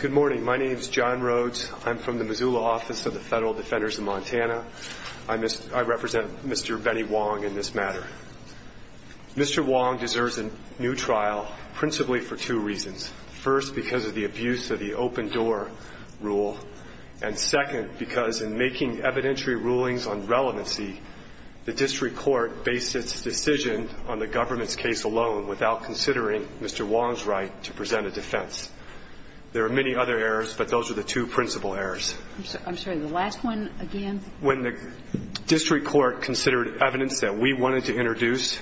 Good morning. My name is John Rhodes. I'm from the Missoula Office of the Federal Defenders of Montana. I represent Mr. Benny Huang in this matter. Mr. Huang deserves a new trial principally for two reasons. First, because of the abuse of the open door rule. And second, because in making evidentiary rulings on relevancy, the district court based its decision on the government's case alone without considering Mr. Huang's right to present a defense. There are many other errors, but those are the two principal errors. I'm sorry. The last one again? When the district court considered evidence that we wanted to introduce,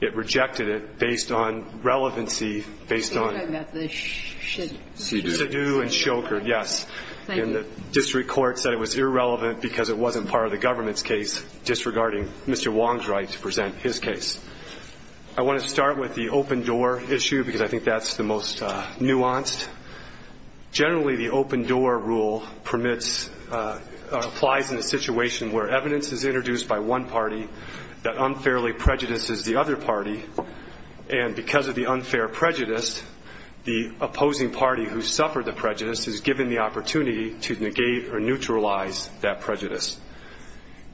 it rejected it based on relevancy, based on the shadoo and shoker. Thank you. The district court said it was irrelevant because it wasn't part of the government's case disregarding Mr. Huang's right to present his case. I want to start with the open door issue because I think that's the most nuanced. Generally, the open door rule permits or applies in a situation where evidence is introduced by one party that unfairly prejudices the other party. And because of the unfair prejudice, the opposing party who suffered the prejudice is given the opportunity to negate or neutralize that prejudice.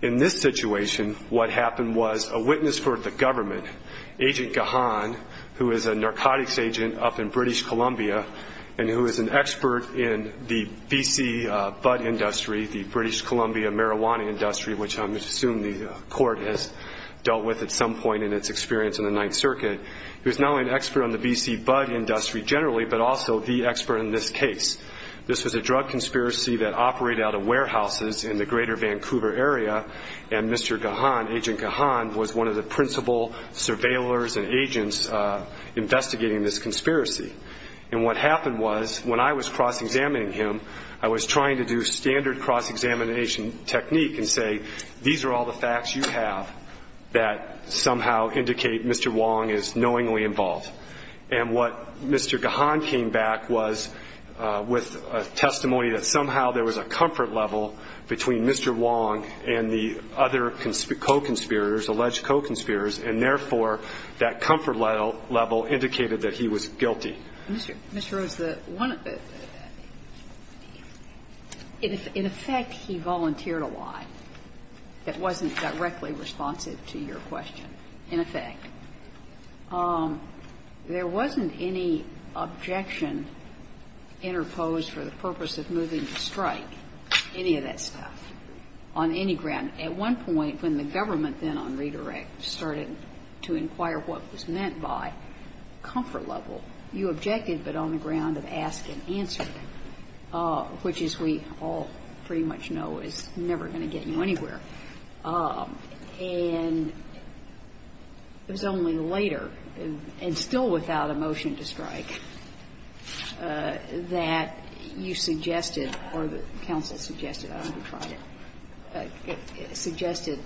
In this situation, what happened was a witness for the government, Agent Gahan, who is a narcotics agent up in British Columbia and who is an expert in the B.C. who is not only an expert on the B.C. bud industry generally, but also the expert in this case. This was a drug conspiracy that operated out of warehouses in the greater Vancouver area, and Mr. Gahan, Agent Gahan, was one of the principal surveillors and agents investigating this conspiracy. And what happened was when I was cross-examining him, I was trying to do standard cross-examination technique and say, these are all the facts you have that somehow indicate Mr. Wong is knowingly involved. And what Mr. Gahan came back was with a testimony that somehow there was a comfort level between Mr. Wong and the other co-conspirators, alleged co-conspirators, and therefore that comfort level indicated that he was guilty. Kagan. Mr. Rose, the one of the – in effect, he volunteered a lie that wasn't directly responsive to your question, in effect. There wasn't any objection interposed for the purpose of moving to strike, any of that stuff, on any ground. At one point, when the government then on redirect started to inquire what was meant by comfort level, you objected, but on the ground of ask and answer, which, as we all pretty much know, is never going to get you anywhere. And it was only later, and still without a motion to strike, that you suggested or the counsel suggested, I don't know if you tried it, suggested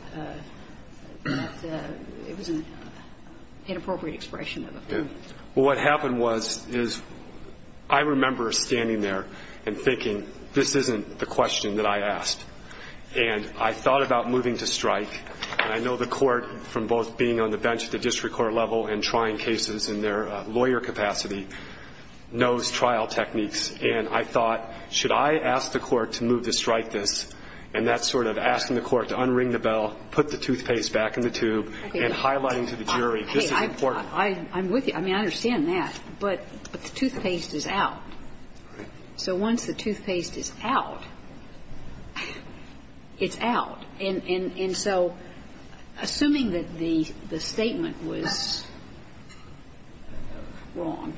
that it was an inappropriate expression. Well, what happened was, is I remember standing there and thinking this isn't the question that I asked. And I thought about moving to strike, and I know the court, from both being on the bench at the district court level and trying cases in their lawyer capacity, knows trial techniques. And I thought, should I ask the court to move to strike this, and that's sort of asking the court to unring the bell, put the toothpaste back in the tube, and highlighting to the jury, this is important. I'm with you. I mean, I understand that. But the toothpaste is out. So once the toothpaste is out, it's out. And so, assuming that the statement was wrong,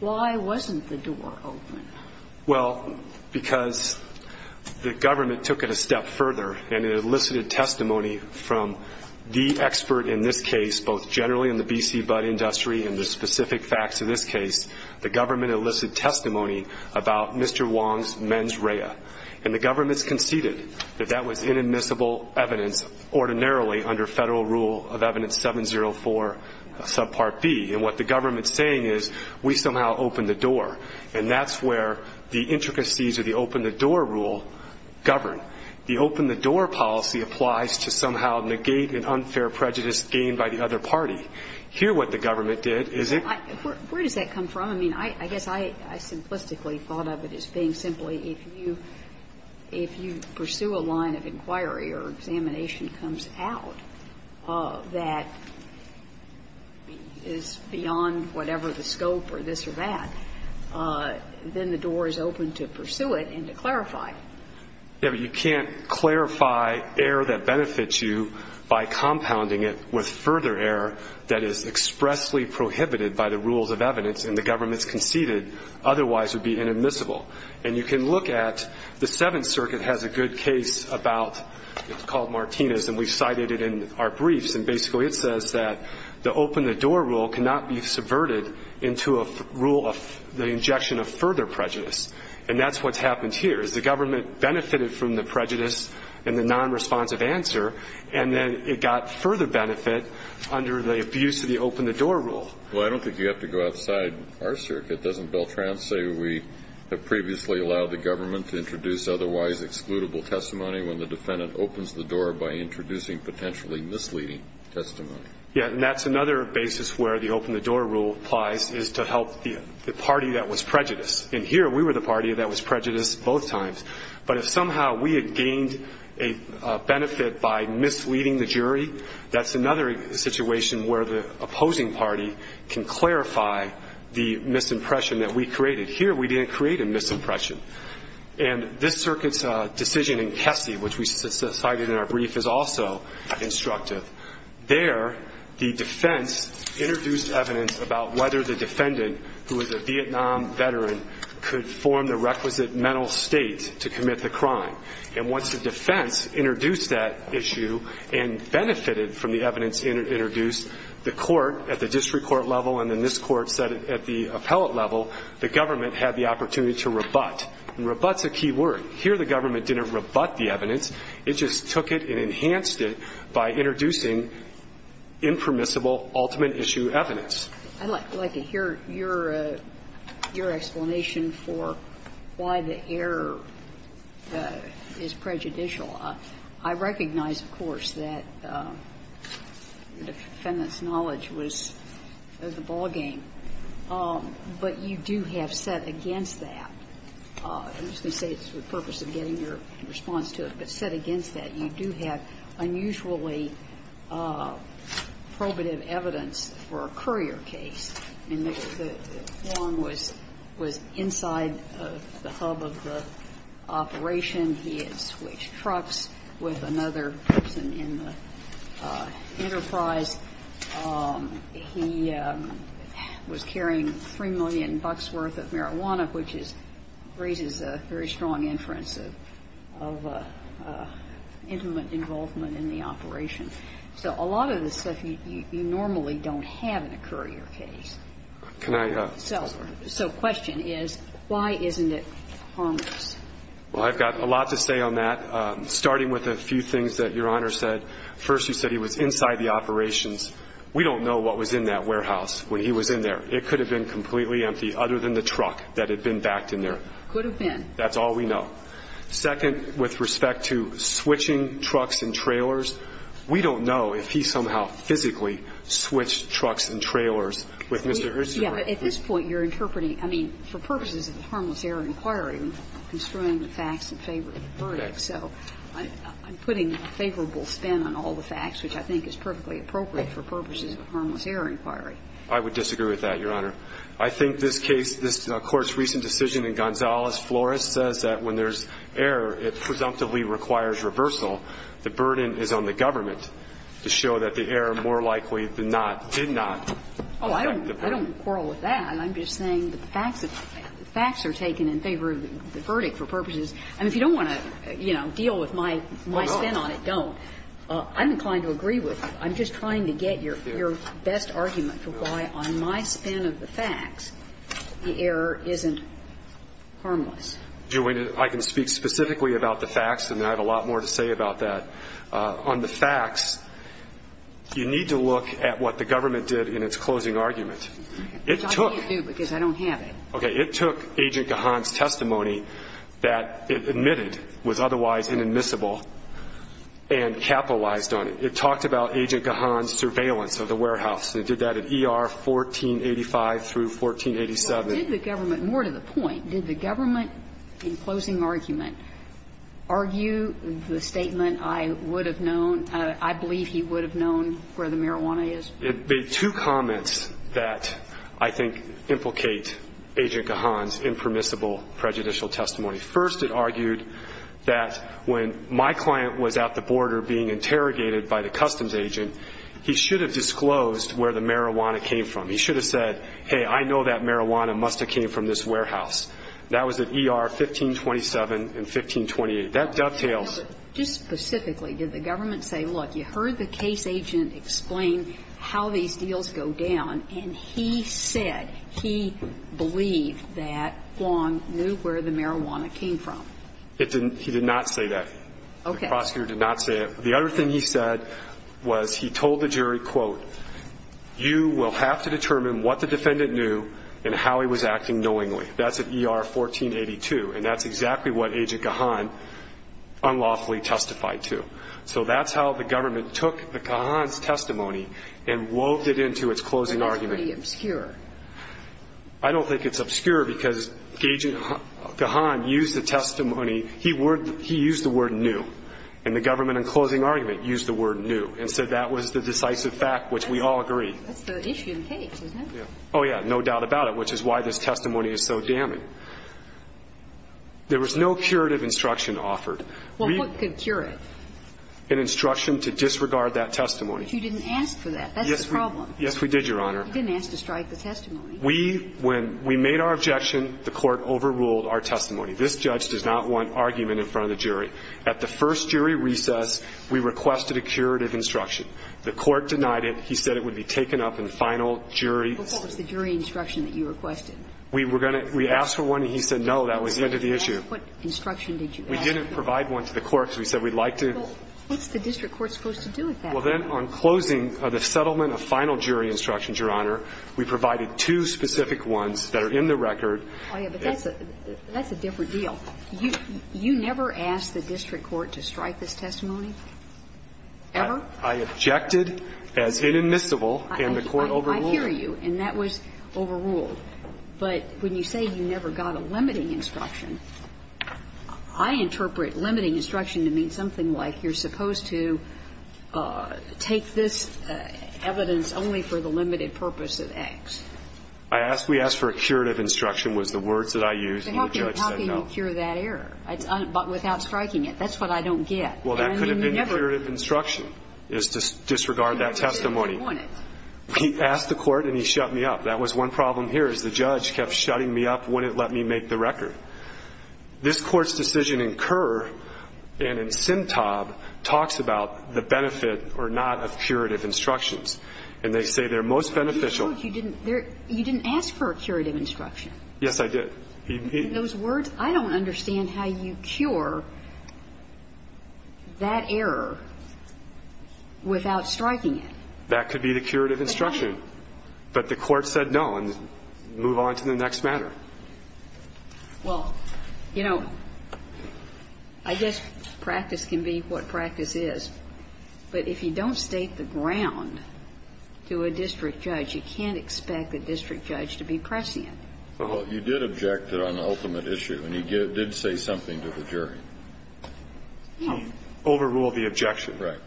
why wasn't the door open? Well, because the government took it a step further, and it elicited testimony from the expert in this case, both generally in the B.C. Budd industry and the specific facts of this case. The government elicited testimony about Mr. Wong's mens rea. And the government's conceded that that was inadmissible evidence, ordinarily under federal rule of evidence 704, subpart B. And what the government's saying is, we somehow opened the door. And that's where the intricacies of the open-the-door rule govern. The open-the-door policy applies to somehow negate an unfair prejudice gained by the other party. Here, what the government did is it ---- Where does that come from? I mean, I guess I simplistically thought of it as being simply, if you pursue a line of inquiry or examination comes out that is beyond whatever the scope or this or that, then the door is open to pursue it and to clarify. Yes, but you can't clarify error that benefits you by compounding it with further error that is expressly prohibited by the rules of evidence, and the government's conceded otherwise would be inadmissible. And you can look at the Seventh Circuit has a good case about ---- it's called Martinez, and we cited it in our briefs. And basically, it says that the open-the-door rule cannot be subverted into a rule of the injection of further prejudice. And that's what's happened here, is the government benefited from the prejudice and the nonresponsive answer, and then it got further benefit under the abuse of the open-the-door rule. Well, I don't think you have to go outside our circuit. Doesn't Beltran say we have previously allowed the government to introduce otherwise excludable testimony when the defendant opens the door by introducing potentially misleading testimony? Yes, and that's another basis where the open-the-door rule applies is to help the party that was prejudiced. And here, we were the party that was prejudiced both times. But if somehow we had gained a benefit by misleading the jury, that's another situation where the opposing party can clarify the misimpression that we created. Here, we didn't create a misimpression. And this circuit's decision in Kesey, which we cited in our brief, is also instructive. There, the defense introduced evidence about whether the defendant, who is a Vietnam veteran, could form the requisite mental state to commit the crime. And once the defense introduced that issue and benefited from the evidence introduced, the court at the district court level and then this court said at the district court level that the defendant was prejudiced. And rebut's a key word. Here, the government didn't rebut the evidence. It just took it and enhanced it by introducing impermissible ultimate issue evidence. I'd like to hear your explanation for why the error is prejudicial. I recognize, of course, that the defendant's knowledge was the ballgame. But you do have set against that. I'm just going to say it's for the purpose of getting your response to it. But set against that, you do have unusually probative evidence for a courier case. I mean, Wong was inside the hub of the operation. He had switched trucks with another person in the enterprise. He was carrying $3 million worth of marijuana, which is raises a very strong inference of intimate involvement in the operation. So a lot of this stuff, you normally don't have in a courier case. So the question is, why isn't it harmless? Well, I've got a lot to say on that, starting with a few things that Your Honor said. First, you said he was inside the operations. We don't know what was in that warehouse when he was in there. It could have been completely empty other than the truck that had been backed in there. Could have been. That's all we know. Second, with respect to switching trucks and trailers, we don't know if he somehow physically switched trucks and trailers with Mr. Hirschberg. But at this point, you're interpreting, I mean, for purposes of the harmless error inquiry, we're construing the facts that favor the verdict. So I'm putting favorable spin on all the facts, which I think is perfectly appropriate for purposes of the harmless error inquiry. I would disagree with that, Your Honor. I think this case, this Court's recent decision in Gonzalez-Flores says that when there's error, it presumptively requires reversal. The burden is on the government to show that the error more likely than not did not affect the verdict. Oh, I don't quarrel with that. I'm just saying that the facts are taken in favor of the verdict for purposes of the harmless error inquiry. I mean, if you don't want to, you know, deal with my spin on it, don't. I'm inclined to agree with you. I'm just trying to get your best argument for why on my spin of the facts the error isn't harmless. I can speak specifically about the facts, and I have a lot more to say about that. On the facts, you need to look at what the government did in its closing argument. It took. I can't do it because I don't have it. Okay. It took Agent Gahan's testimony that it admitted was otherwise inadmissible and capitalized on it. It talked about Agent Gahan's surveillance of the warehouse, and it did that in ER 1485 through 1487. Did the government, more to the point, did the government in closing argument argue the statement, I would have known, I believe he would have known where the marijuana is? It made two comments that I think implicate Agent Gahan's impermissible prejudicial testimony. First, it argued that when my client was at the border being interrogated by the customs agent, he should have disclosed where the marijuana came from. He should have said, hey, I know that marijuana must have came from this warehouse. That was at ER 1527 and 1528. That dovetails. Just specifically, did the government say, look, you heard the case agent explain how these deals go down, and he said he believed that Huang knew where the marijuana came from? He did not say that. Okay. The prosecutor did not say it. The other thing he said was he told the jury, quote, you will have to determine what the defendant knew and how he was acting knowingly. That's at ER 1482. And that's exactly what Agent Gahan unlawfully testified to. So that's how the government took the Gahan's testimony and wove it into its closing argument. That's pretty obscure. I don't think it's obscure because Agent Gahan used the testimony. He used the word knew. And the government in closing argument used the word knew and said that was the decisive fact, which we all agree. That's the issue in the case, isn't it? Yeah. Oh, yeah, no doubt about it, which is why this testimony is so damning. There was no curative instruction offered. Well, what could cure it? An instruction to disregard that testimony. But you didn't ask for that. That's the problem. Yes, we did, Your Honor. You didn't ask to strike the testimony. We, when we made our objection, the Court overruled our testimony. This judge does not want argument in front of the jury. At the first jury recess, we requested a curative instruction. The Court denied it. He said it would be taken up in final jury. But what was the jury instruction that you requested? We were going to ask for one, and he said no, that was the end of the issue. What instruction did you ask for? We didn't provide one to the courts. We said we'd like to. Well, what's the district court supposed to do with that? Well, then on closing of the settlement of final jury instructions, Your Honor, we provided two specific ones that are in the record. Oh, yeah, but that's a different deal. You never asked the district court to strike this testimony? Ever? I objected as inadmissible, and the Court overruled it. I hear you, and that was overruled. But when you say you never got a limiting instruction, I interpret limiting instruction to mean something like you're supposed to take this evidence only for the limited purpose of X. I asked we asked for a curative instruction was the words that I used, and the judge said no. But how can you cure that error without striking it? That's what I don't get. Well, that could have been a curative instruction is to disregard that testimony. He asked the Court and he shut me up. That was one problem here is the judge kept shutting me up, wouldn't let me make the record. This Court's decision in Kerr and in Sintob talks about the benefit or not of curative instructions. And they say they're most beneficial. You didn't ask for a curative instruction. Yes, I did. Those words, I don't understand how you cure that error without striking it. That could be the curative instruction. But the Court said no and moved on to the next matter. Well, you know, I guess practice can be what practice is. But if you don't state the ground to a district judge, you can't expect a district judge to be pressing it. Well, you did object to an ultimate issue and you did say something to the jury. Overrule the objection. Right.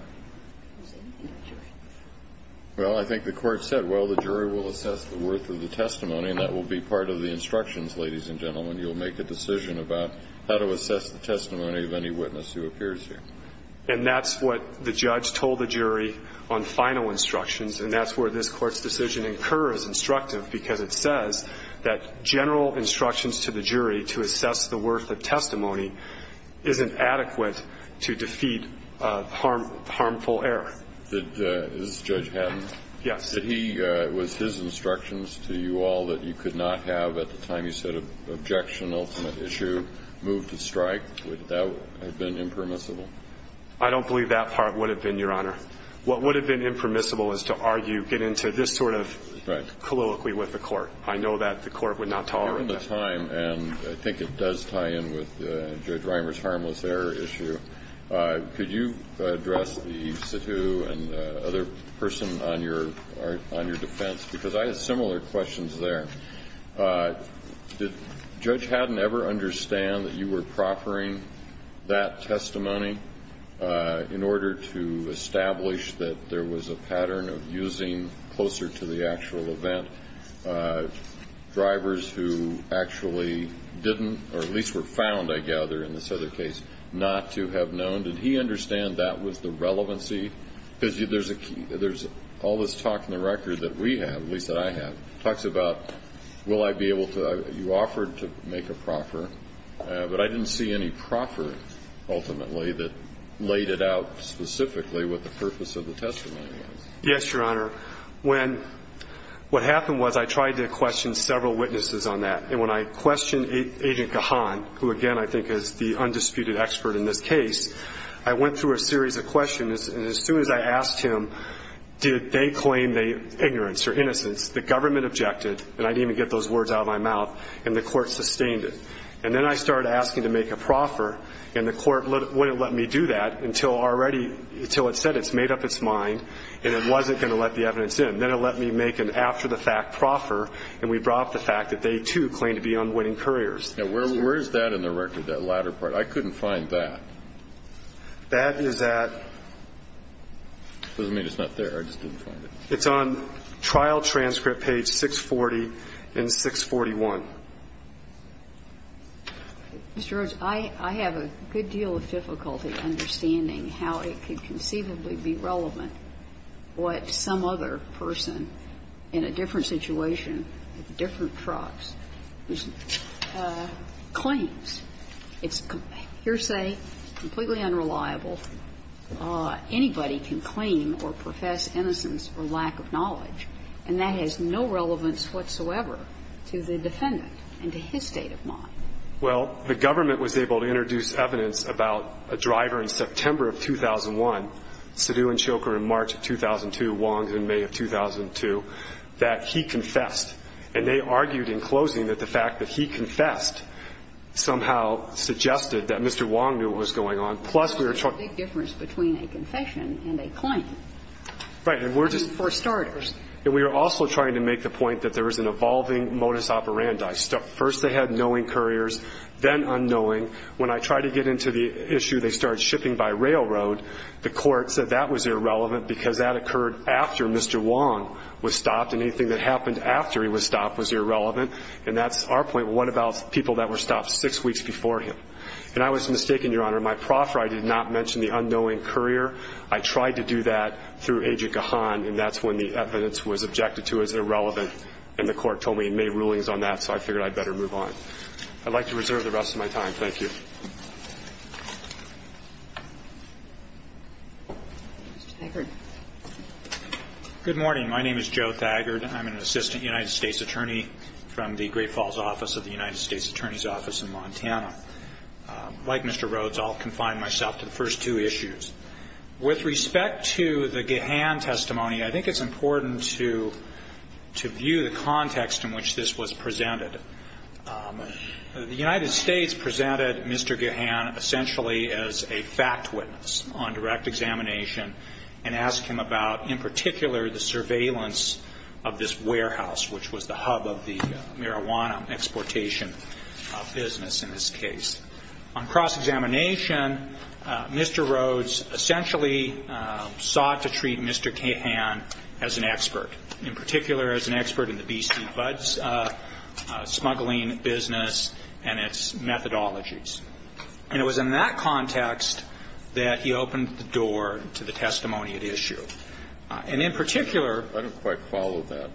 Well, I think the Court said, well, the jury will assess the worth of the testimony and that will be part of the instructions, ladies and gentlemen. You'll make a decision about how to assess the testimony of any witness who appears And that's what the judge told the jury on final instructions. And that's where this Court's decision incurs, instructive, because it says that general instructions to the jury to assess the worth of testimony isn't adequate to defeat harmful error. This is Judge Hatton. Yes. Did he, was his instructions to you all that you could not have at the time you said ultimate issue moved to strike? Would that have been impermissible? I don't believe that part would have been, Your Honor. What would have been impermissible is to argue, get into this sort of colloquially with the Court. I know that the Court would not tolerate that. Given the time, and I think it does tie in with Judge Reimer's harmless error issue, could you address the situ and the other person on your defense? Because I had similar questions there. Did Judge Hatton ever understand that you were proffering that testimony in order to establish that there was a pattern of using closer to the actual event drivers who actually didn't, or at least were found, I gather, in this other case, not to have known? Did he understand that was the relevancy? Because there's all this talk in the record that we have, at least that I have, talks about will I be able to, you offered to make a proffer, but I didn't see any proffer, ultimately, that laid it out specifically what the purpose of the testimony was. Yes, Your Honor. When, what happened was I tried to question several witnesses on that, and when I questioned Agent Gahan, who, again, I think is the undisputed expert in this case, I went through a series of questions, and as soon as I asked him, did they claim the ignorance or innocence, the government objected, and I didn't even get those words out of my mouth, and the court sustained it. And then I started asking to make a proffer, and the court wouldn't let me do that until already, until it said it's made up its mind and it wasn't going to let the evidence in. Then it let me make an after-the-fact proffer, and we brought up the fact that they, too, claimed to be unwitting couriers. Now, where is that in the record, that latter part? I couldn't find that. That is at... It doesn't mean it's not there. I just didn't find it. It's on trial transcript page 640 and 641. Mr. Rhodes, I have a good deal of difficulty understanding how it could conceivably be relevant what some other person in a different situation, different trots, claims. It's hearsay, completely unreliable. Anybody can claim or profess innocence for lack of knowledge, and that has no relevance whatsoever to the defendant and to his state of mind. Well, the government was able to introduce evidence about a driver in September of 2001, Sidhu and Shoker in March of 2002, Wong in May of 2002, that he confessed. And they argued in closing that the fact that he confessed somehow suggested that Mr. Wong knew what was going on. Plus, we were trying to... That's a big difference between a confession and a claim. Right. And we're just... I mean, for starters. And we were also trying to make the point that there was an evolving modus operandi. First they had knowing couriers, then unknowing. When I tried to get into the issue, they started shipping by railroad. The court said that was irrelevant because that occurred after Mr. Wong was stopped, and anything that happened after he was stopped was irrelevant. And that's our point. What about people that were stopped six weeks before him? And I was mistaken, Your Honor. My proffer, I did not mention the unknowing courier. I tried to do that through Agent Gahan, and that's when the evidence was objected to as irrelevant. And the court told me and made rulings on that, so I figured I'd better move on. I'd like to reserve the rest of my time. Thank you. Mr. Thagard. Good morning. My name is Joe Thagard. I'm an assistant United States attorney from the Great Falls office of the United States Attorney's Office in Montana. Like Mr. Rhodes, I'll confine myself to the first two issues. With respect to the Gahan testimony, I think it's important to view the context in which this was presented. The United States presented Mr. Gahan essentially as a fact witness on direct examination and asked him about in particular the surveillance of this warehouse, which was the hub of the marijuana exportation business in this case. On cross-examination, Mr. Rhodes essentially sought to treat Mr. Gahan as an expert, in particular as an expert in the B.C. Buds smuggling business and its methodologies. And it was in that context that he opened the door to the testimony at issue. I don't quite follow that.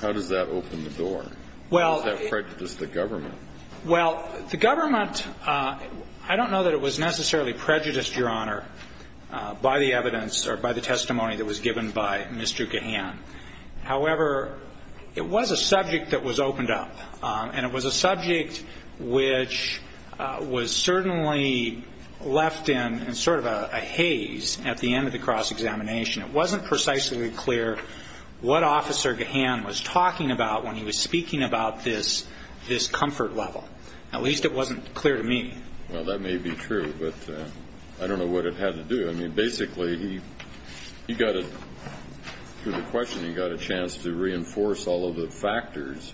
How does that open the door? How does that prejudice the government? Well, the government, I don't know that it was necessarily prejudiced, Your Honor, by the evidence or by the testimony that was given by Mr. Gahan. However, it was a subject that was opened up, and it was a subject which was certainly left in sort of a haze at the end of the cross-examination. It wasn't precisely clear what Officer Gahan was talking about when he was speaking about this comfort level. At least it wasn't clear to me. Well, that may be true, but I don't know what it had to do. I mean, basically, through the questioning, he got a chance to reinforce all of the factors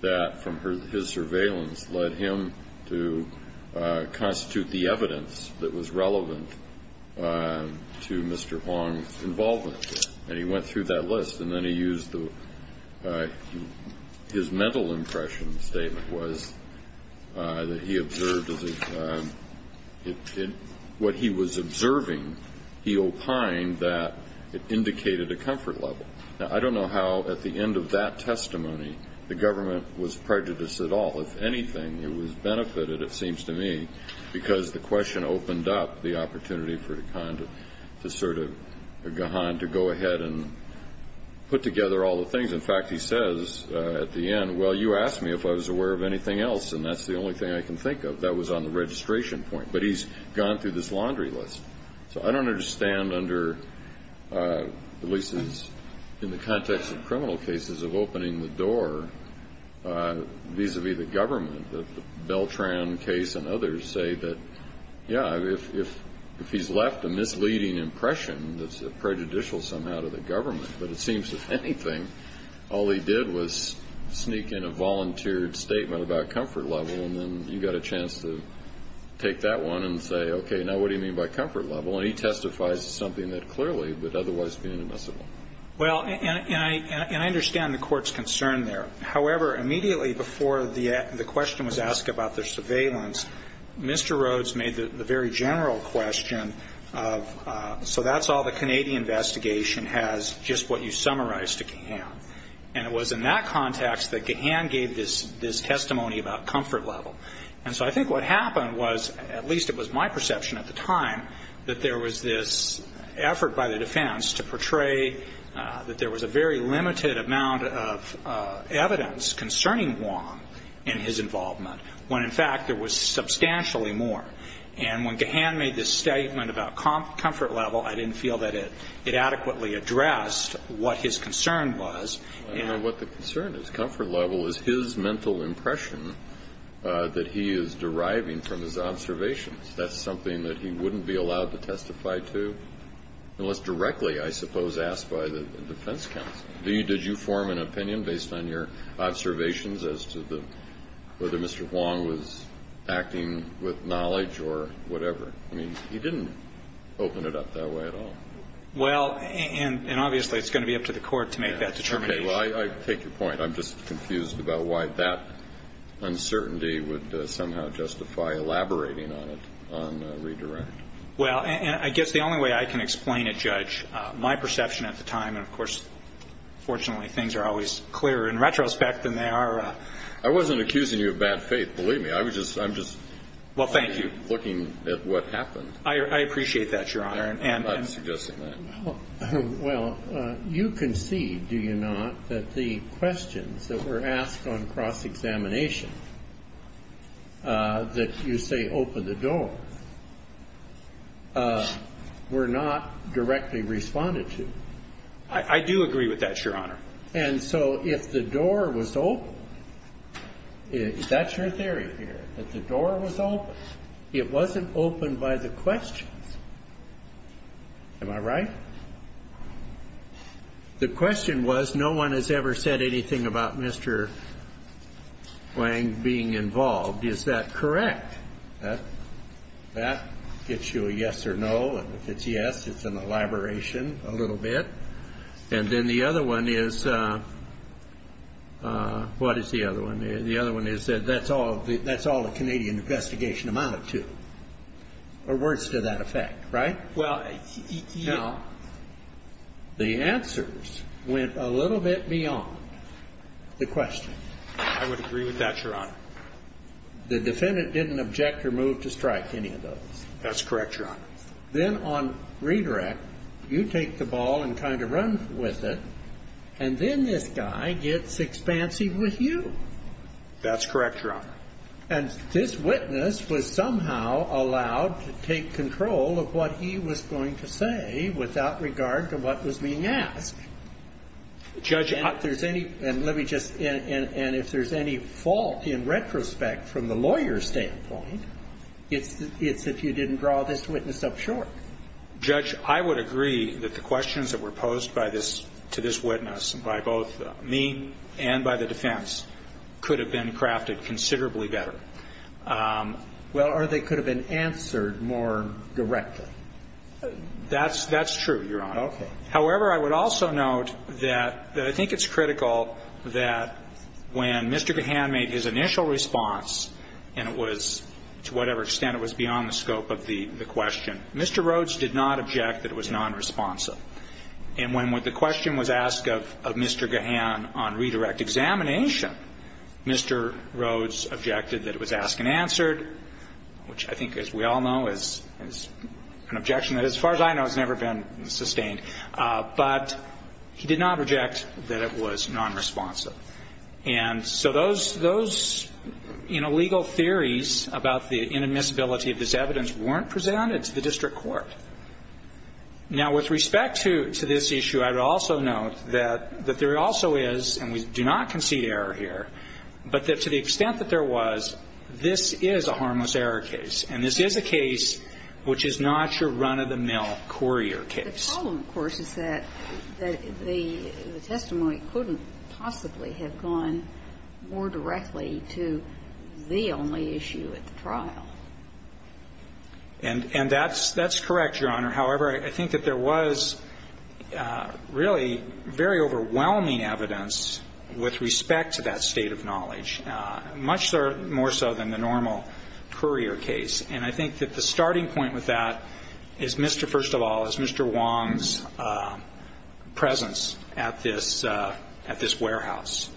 that, from his surveillance, led him to constitute the evidence that was relevant to Mr. Huang's involvement. And he went through that list, and then he used his mental impression statement, that what he was observing, he opined that it indicated a comfort level. Now, I don't know how, at the end of that testimony, the government was prejudiced at all. If anything, it was benefited, it seems to me, because the question opened up the opportunity for Gahan to go ahead and put together all the things. In fact, he says at the end, well, you asked me if I was aware of anything else, and that's the only thing I can think of. That was on the registration point. But he's gone through this laundry list. So I don't understand under, at least in the context of criminal cases, of opening the door vis-a-vis the government. The Beltran case and others say that, yeah, if he's left a misleading impression that's prejudicial somehow to the government, but it seems, if anything, all he did was sneak in a volunteered statement about comfort level, and then you got a chance to take that one and say, okay, now what do you mean by comfort level? And he testifies to something that clearly would otherwise be inadmissible. Well, and I understand the Court's concern there. However, immediately before the question was asked about their surveillance, Mr. Rhodes made the very general question of, so that's all the Canadian investigation has, just what you summarized to Gahan. And it was in that context that Gahan gave this testimony about comfort level. And so I think what happened was, at least it was my perception at the time, that there was this effort by the defense to portray that there was a very limited amount of evidence concerning Wong and his involvement when, in fact, there was substantially more. And when Gahan made this statement about comfort level, I didn't feel that it adequately addressed what his concern was. I don't know what the concern is. Comfort level is his mental impression that he is deriving from his observations. That's something that he wouldn't be allowed to testify to unless directly, I suppose, asked by the defense counsel. Did you form an opinion based on your observations as to whether Mr. Wong was acting with knowledge or whatever? I mean, he didn't open it up that way at all. Well, and obviously it's going to be up to the Court to make that determination. Okay. Well, I take your point. I'm just confused about why that uncertainty would somehow justify elaborating on it on redirect. Well, I guess the only way I can explain it, Judge, my perception at the time, and of course, fortunately, things are always clearer in retrospect than they are I wasn't accusing you of bad faith, believe me. I was just, I'm just looking at what happened. Well, thank you. I appreciate that, Your Honor. I'm not suggesting that. Well, you concede, do you not, that the questions that were asked on cross-examination that you say opened the door were not directly responded to? I do agree with that, Your Honor. And so if the door was open, that's your theory here, that the door was open. It wasn't opened by the questions. Am I right? The question was no one has ever said anything about Mr. Wang being involved. Is that correct? That gets you a yes or no, and if it's yes, it's an elaboration a little bit. And then the other one is, what is the other one? The other one is that that's all the Canadian investigation amounted to, or words to that effect, right? Well, no. The answers went a little bit beyond the question. I would agree with that, Your Honor. The defendant didn't object or move to strike any of those. That's correct, Your Honor. Then on redirect, you take the ball and kind of run with it, and then this guy gets expansive with you. That's correct, Your Honor. And this witness was somehow allowed to take control of what he was going to say without regard to what was being asked. Judge, I ---- And if there's any fault in retrospect from the lawyer's standpoint, it's if you didn't draw this witness up short. Judge, I would agree that the questions that were posed to this witness by both me and by the defense could have been crafted considerably better. Well, or they could have been answered more directly. That's true, Your Honor. Okay. However, I would also note that I think it's critical that when Mr. Gahan made his initial response, and it was to whatever extent it was beyond the scope of the question, Mr. Rhodes did not object that it was nonresponsive. And when the question was asked of Mr. Gahan on redirect examination, Mr. Rhodes objected that it was asked and answered, which I think, as we all know, is an objection that, as far as I know, has never been sustained. But he did not reject that it was nonresponsive. And so those, you know, legal theories about the inadmissibility of this evidence weren't presented to the district court. Now, with respect to this issue, I would also note that there also is, and we do not concede error here, but that to the extent that there was, this is a harmless error case. And this is a case which is not your run-of-the-mill courier case. The problem, of course, is that the testimony couldn't possibly have gone more directly to the only issue at the trial. And that's correct, Your Honor. However, I think that there was really very overwhelming evidence with respect to that state of knowledge, much more so than the normal courier case. And I think that the starting point with that is, first of all, is Mr. Wong's presence at this warehouse.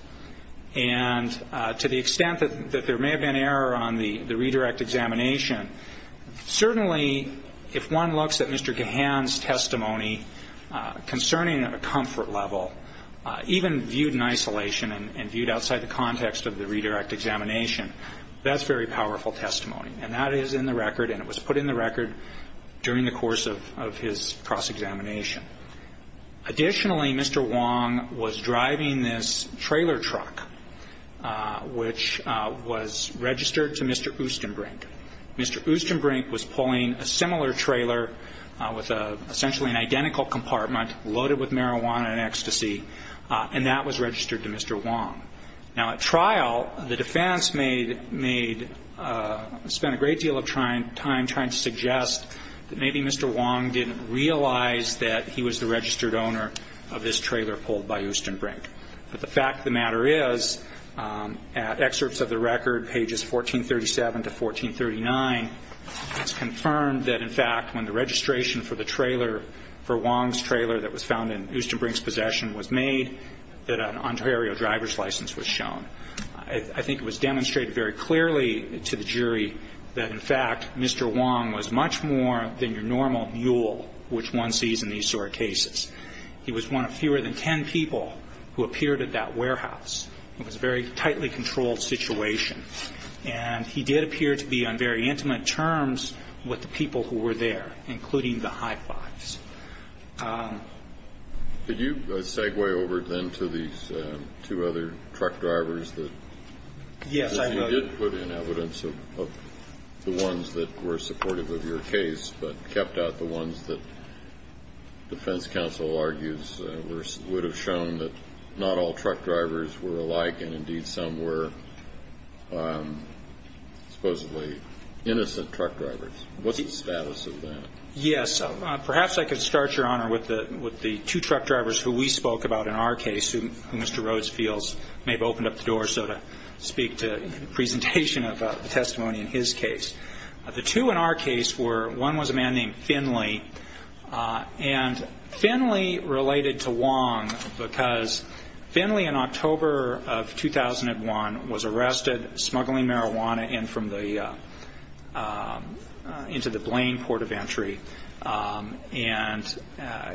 And to the extent that there may have been error on the redirect examination, certainly if one looks at Mr. Gahan's testimony concerning a comfort level, even viewed in isolation and viewed outside the context of the redirect examination, that's very powerful testimony. And that is in the record, and it was put in the record during the course of his cross-examination. Additionally, Mr. Wong was driving this trailer truck, which was registered to Mr. Oostenbrink. Mr. Oostenbrink was pulling a similar trailer with essentially an identical compartment, loaded with marijuana and ecstasy, and that was registered to Mr. Wong. Now, at trial, the defense spent a great deal of time trying to suggest that maybe Mr. Wong didn't realize that he was the registered owner of this trailer pulled by Oostenbrink. But the fact of the matter is, at excerpts of the record, pages 1437 to 1439, it's confirmed that, in fact, when the registration for the trailer, for Wong's trailer that was found in Oostenbrink's possession was made, that an Ontario driver's license was shown. I think it was demonstrated very clearly to the jury that, in fact, Mr. Wong was much more than your normal mule, which one sees in these sort of cases. He was one of fewer than ten people who appeared at that warehouse. It was a very tightly controlled situation. And he did appear to be on very intimate terms with the people who were there, including the high-fives. Did you segue over then to these two other truck drivers that you did put in evidence of the ones that were supportive of your case but kept out the ones that defense counsel argues would have shown that not all truck drivers were alike and, indeed, some were supposedly innocent truck drivers? What's the status of that? Yes. Perhaps I could start, Your Honor, with the two truck drivers who we spoke about in our case, who Mr. Rhodes feels may have opened up the door. So to speak to the presentation of the testimony in his case. The two in our case were, one was a man named Finley. And Finley related to Wong because Finley, in October of 2001, was arrested smuggling marijuana into the Blaine Port of Entry. And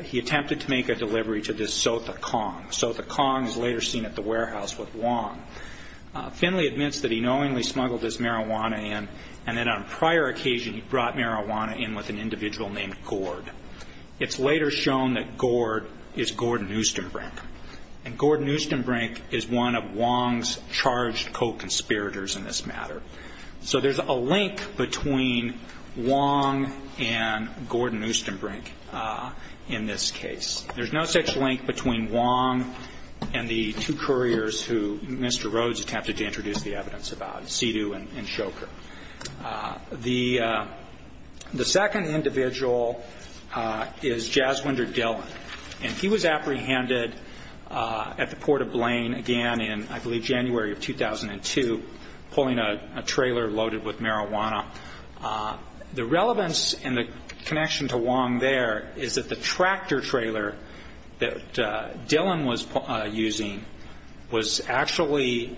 he attempted to make a delivery to this Sotha Kong. Sotha Kong is later seen at the warehouse with Wong. Finley admits that he knowingly smuggled his marijuana in, and then on a prior occasion he brought marijuana in with an individual named Gord. It's later shown that Gord is Gordon Oostenbrink. And Gordon Oostenbrink is one of Wong's charged co-conspirators in this matter. So there's a link between Wong and Gordon Oostenbrink in this case. There's no such link between Wong and the two couriers who Mr. Rhodes attempted to introduce the evidence about, Sedu and Shoker. The second individual is Jaswinder Dhillon. And he was apprehended at the Port of Blaine again in, I believe, January of 2002, pulling a trailer loaded with marijuana. The relevance and the connection to Wong there is that the tractor trailer that Dhillon was using was actually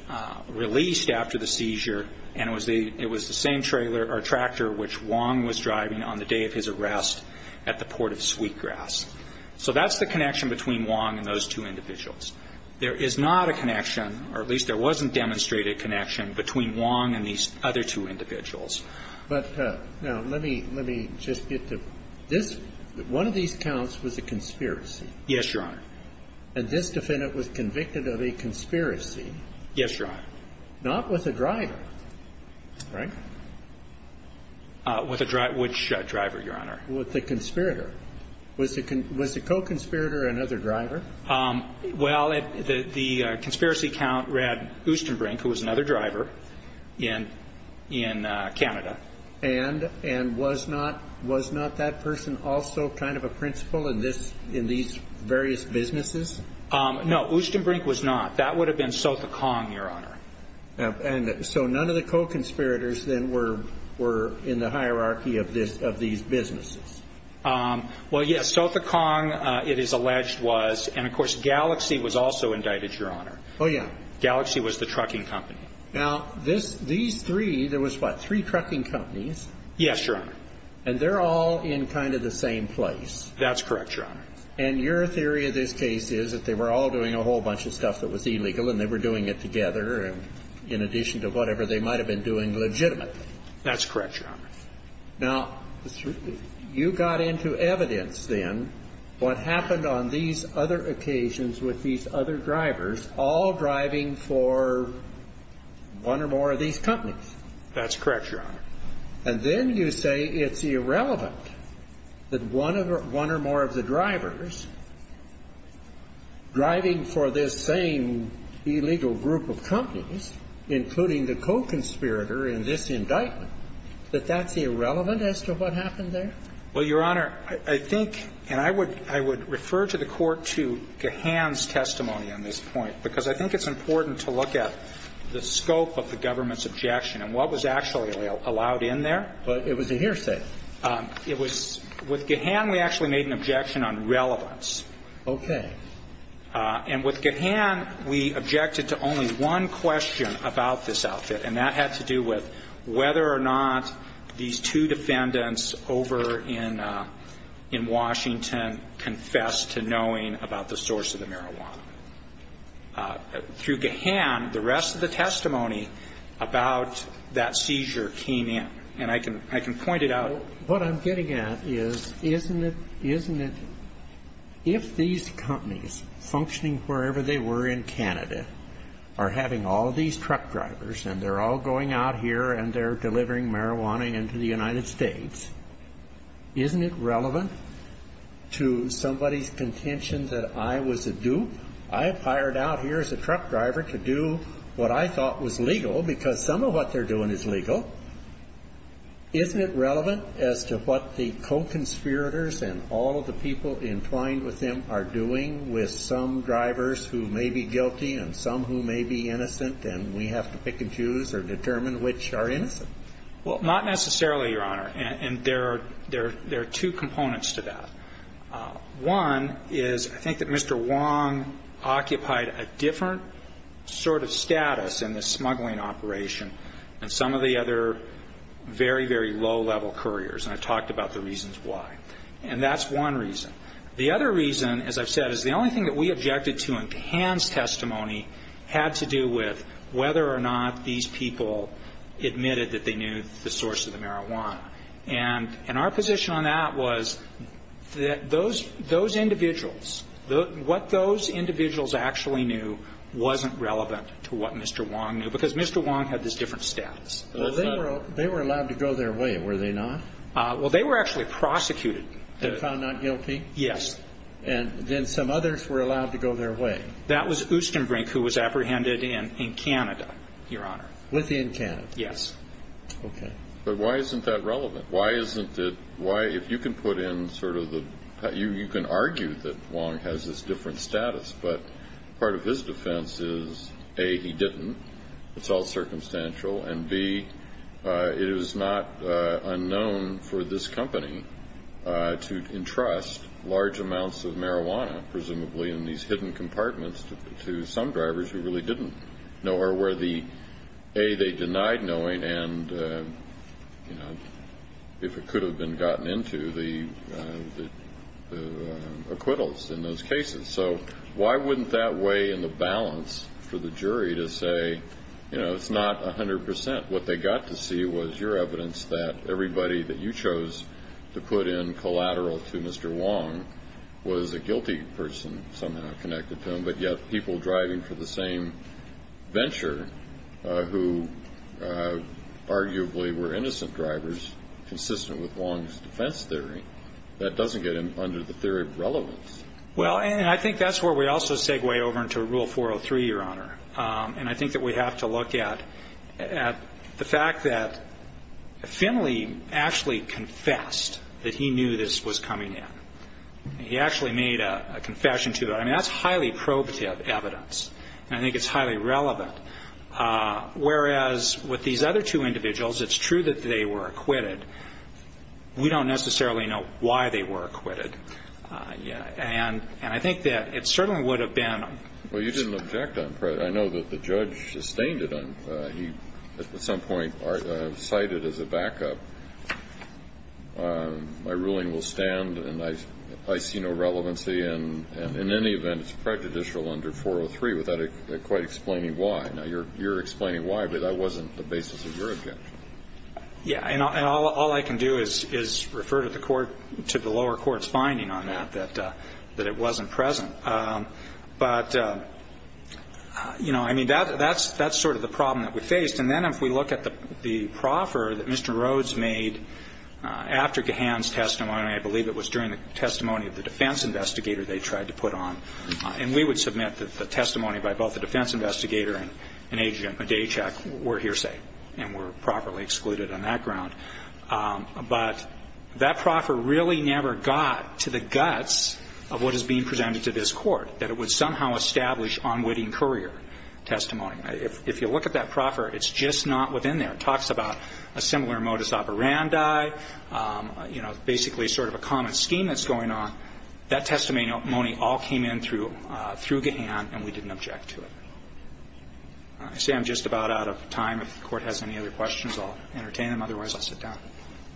released after the seizure, and it was the same trailer or tractor which Wong was driving on the day of his arrest at the Port of Sweetgrass. So that's the connection between Wong and those two individuals. There is not a connection, or at least there wasn't demonstrated connection between Wong and these other two individuals. But now let me just get to this. One of these counts was a conspiracy. Yes, Your Honor. And this defendant was convicted of a conspiracy. Yes, Your Honor. Not with a driver, right? With a driver. Which driver, Your Honor? With the conspirator. Was the co-conspirator another driver? Well, the conspiracy count read Oostenbrink, who was another driver, in Canada. And was not that person also kind of a principal in these various businesses? No, Oostenbrink was not. That would have been Sotha Kong, Your Honor. And so none of the co-conspirators then were in the hierarchy of these businesses? Well, yes. Sotha Kong, it is alleged, was. And, of course, Galaxy was also indicted, Your Honor. Oh, yeah. Galaxy was the trucking company. Now, these three, there was what, three trucking companies? Yes, Your Honor. And they're all in kind of the same place? That's correct, Your Honor. And your theory of this case is that they were all doing a whole bunch of stuff that was illegal, and they were doing it together, in addition to whatever they might have been doing legitimately? That's correct, Your Honor. Now, you got into evidence then what happened on these other occasions with these other drivers, all driving for one or more of these companies? That's correct, Your Honor. And then you say it's irrelevant that one or more of the drivers, driving for this same illegal group of companies, including the co-conspirator in this indictment, that that's irrelevant as to what happened there? Well, Your Honor, I think, and I would refer to the Court to Gahan's testimony on this point, because I think it's important to look at the scope of the government's objection and what was actually allowed in there. But it was a hearsay. It was. With Gahan, we actually made an objection on relevance. Okay. And with Gahan, we objected to only one question about this outfit, and that had to do with whether or not these two defendants over in Washington confessed to knowing about the source of the marijuana. Through Gahan, the rest of the testimony about that seizure came in. And I can point it out. Now, what I'm getting at is, isn't it if these companies, functioning wherever they were in Canada, are having all these truck drivers and they're all going out here and they're delivering marijuana into the United States, isn't it relevant to somebody's contention that I was a dupe? I've hired out here as a truck driver to do what I thought was legal because some of what they're doing is legal. Isn't it relevant as to what the co-conspirators and all of the people entwined with them are doing with some drivers who may be guilty and some who may be innocent and we have to pick and choose or determine which are innocent? Well, not necessarily, Your Honor. And there are two components to that. One is I think that Mr. Wong occupied a different sort of status in the smuggling operation than some of the other very, very low-level couriers, and I've talked about the reasons why. And that's one reason. The other reason, as I've said, is the only thing that we objected to in Gahan's testimony had to do with whether or not these people admitted that they knew the source of the marijuana. And our position on that was that those individuals, what those individuals actually knew wasn't relevant to what Mr. Wong knew because Mr. Wong had this different status. Well, they were allowed to go their way, were they not? Well, they were actually prosecuted. And found not guilty? Yes. And then some others were allowed to go their way? That was Oostenbrink, who was apprehended in Canada, Your Honor. Within Canada? Yes. Okay. But why isn't that relevant? Why isn't it? If you can put in sort of the – you can argue that Wong has this different status, but part of his defense is, A, he didn't, it's all circumstantial, and, B, it is not unknown for this company to entrust large amounts of marijuana, presumably in these hidden compartments, to some drivers who really didn't know or were the – A, they denied knowing, and if it could have been gotten into, the acquittals in those cases. So why wouldn't that weigh in the balance for the jury to say, you know, it's not 100%? What they got to see was your evidence that everybody that you chose to put in collateral to Mr. Wong was a guilty person somehow connected to him, but yet people driving for the same venture who arguably were innocent drivers, consistent with Wong's defense theory, that doesn't get under the theory of relevance. Well, and I think that's where we also segue over into Rule 403, Your Honor, and I think that we have to look at the fact that Finley actually confessed that he knew this was coming in. He actually made a confession to it. I mean, that's highly probative evidence, and I think it's highly relevant, whereas with these other two individuals, it's true that they were acquitted. We don't necessarily know why they were acquitted, and I think that it certainly would have been. Well, you didn't object on prejudice. I know that the judge sustained it. He at some point cited as a backup, my ruling will stand and I see no relevancy, and in any event, it's prejudicial under 403 without quite explaining why. Now, you're explaining why, but that wasn't the basis of your objection. Yeah, and all I can do is refer to the lower court's finding on that, that it wasn't present. But, you know, I mean, that's sort of the problem that we faced, and then if we look at the proffer that Mr. Rhodes made after Gahan's testimony, I believe it was during the testimony of the defense investigator they tried to put on, and we would submit that the testimony by both the defense investigator and Adrian Podacek were hearsay and were properly excluded on that ground. But that proffer really never got to the guts of what is being presented to this court, that it would somehow establish unwitting courier testimony. If you look at that proffer, it's just not within there. It talks about a similar modus operandi, you know, basically sort of a common scheme that's going on. That testimony all came in through Gahan, and we didn't object to it. I say I'm just about out of time. If the Court has any other questions, I'll entertain them. Otherwise, I'll sit down.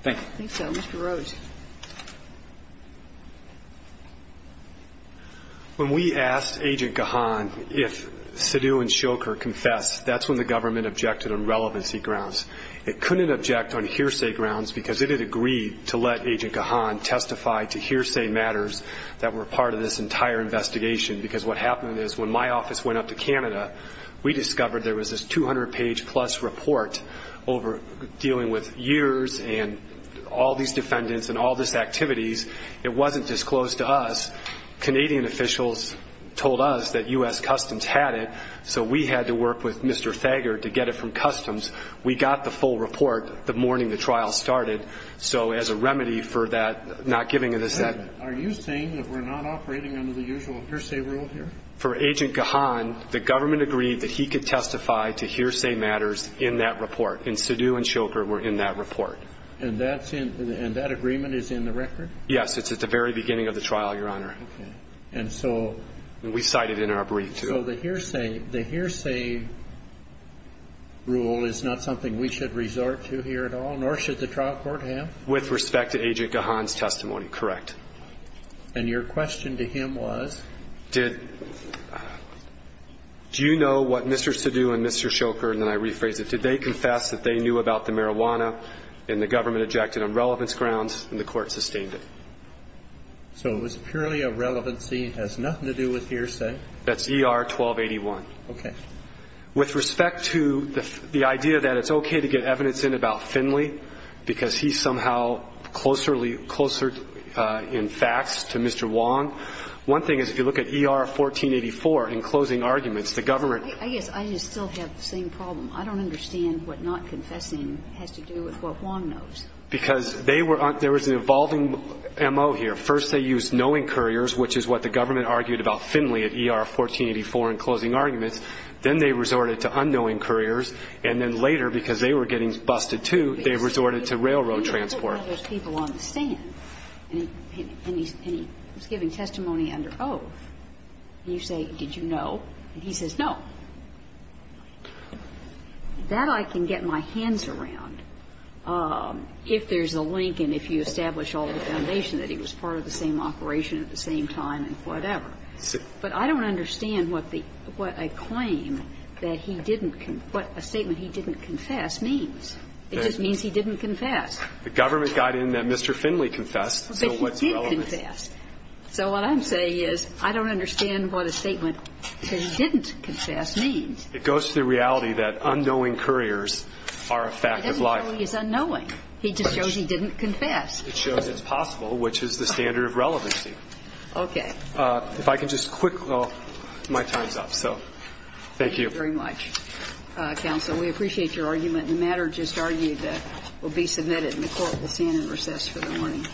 Thank you. I think so. Mr. Rhodes. When we asked Agent Gahan if Sidhu and Shoker confessed, that's when the government objected on relevancy grounds. It couldn't object on hearsay grounds because it had agreed to let Agent Gahan testify to hearsay matters that were part of this entire investigation, because what happened is when my office went up to Canada, we discovered there was this 200-page-plus report over dealing with years and all these defendants and all these activities. It wasn't disclosed to us. Canadian officials told us that U.S. Customs had it, so we had to work with Mr. Thager to get it from Customs. We got the full report the morning the trial started, so as a remedy for that not giving us that. Are you saying that we're not operating under the usual hearsay rule here? For Agent Gahan, the government agreed that he could testify to hearsay matters in that report, and Sidhu and Shoker were in that report. And that agreement is in the record? Yes, it's at the very beginning of the trial, Your Honor. Okay. And so the hearsay rule is not something we should resort to here at all, nor should the trial court have? With respect to Agent Gahan's testimony, correct. And your question to him was? Did you know what Mr. Sidhu and Mr. Shoker, and then I rephrase it, did they confess that they knew about the marijuana and the government ejected on relevance grounds and the court sustained it? So it was purely a relevancy, has nothing to do with hearsay. That's ER-1281. Okay. With respect to the idea that it's okay to get evidence in about Finley because he's somehow closer in facts to Mr. Wong, one thing is if you look at ER-1484 in closing arguments, the government ---- I guess I just still have the same problem. I don't understand what not confessing has to do with what Wong knows. Because they were ---- there was an evolving MO here. First they used knowing couriers, which is what the government argued about Finley at ER-1484 in closing arguments. Then they resorted to unknowing couriers. And then later, because they were getting busted, too, they resorted to railroad transport. But he wasn't one of those people on the stand. And he was giving testimony under oath. And you say, did you know? And he says, no. That I can get my hands around if there's a link and if you establish all the foundation that he was part of the same operation at the same time and whatever. But I don't understand what the ---- what a claim that he didn't ---- what a statement he didn't confess means. It just means he didn't confess. The government got in that Mr. Finley confessed, so what's relevant? But he did confess. So what I'm saying is I don't understand what a statement that he didn't confess means. It goes to the reality that unknowing couriers are a fact of life. He doesn't know he's unknowing. He just shows he didn't confess. It shows it's possible, which is the standard of relevancy. Okay. If I can just quick, though, my time's up. So thank you. Thank you very much, counsel. We appreciate your argument. The matter just argued that will be submitted in the court. We'll stand in recess for the morning.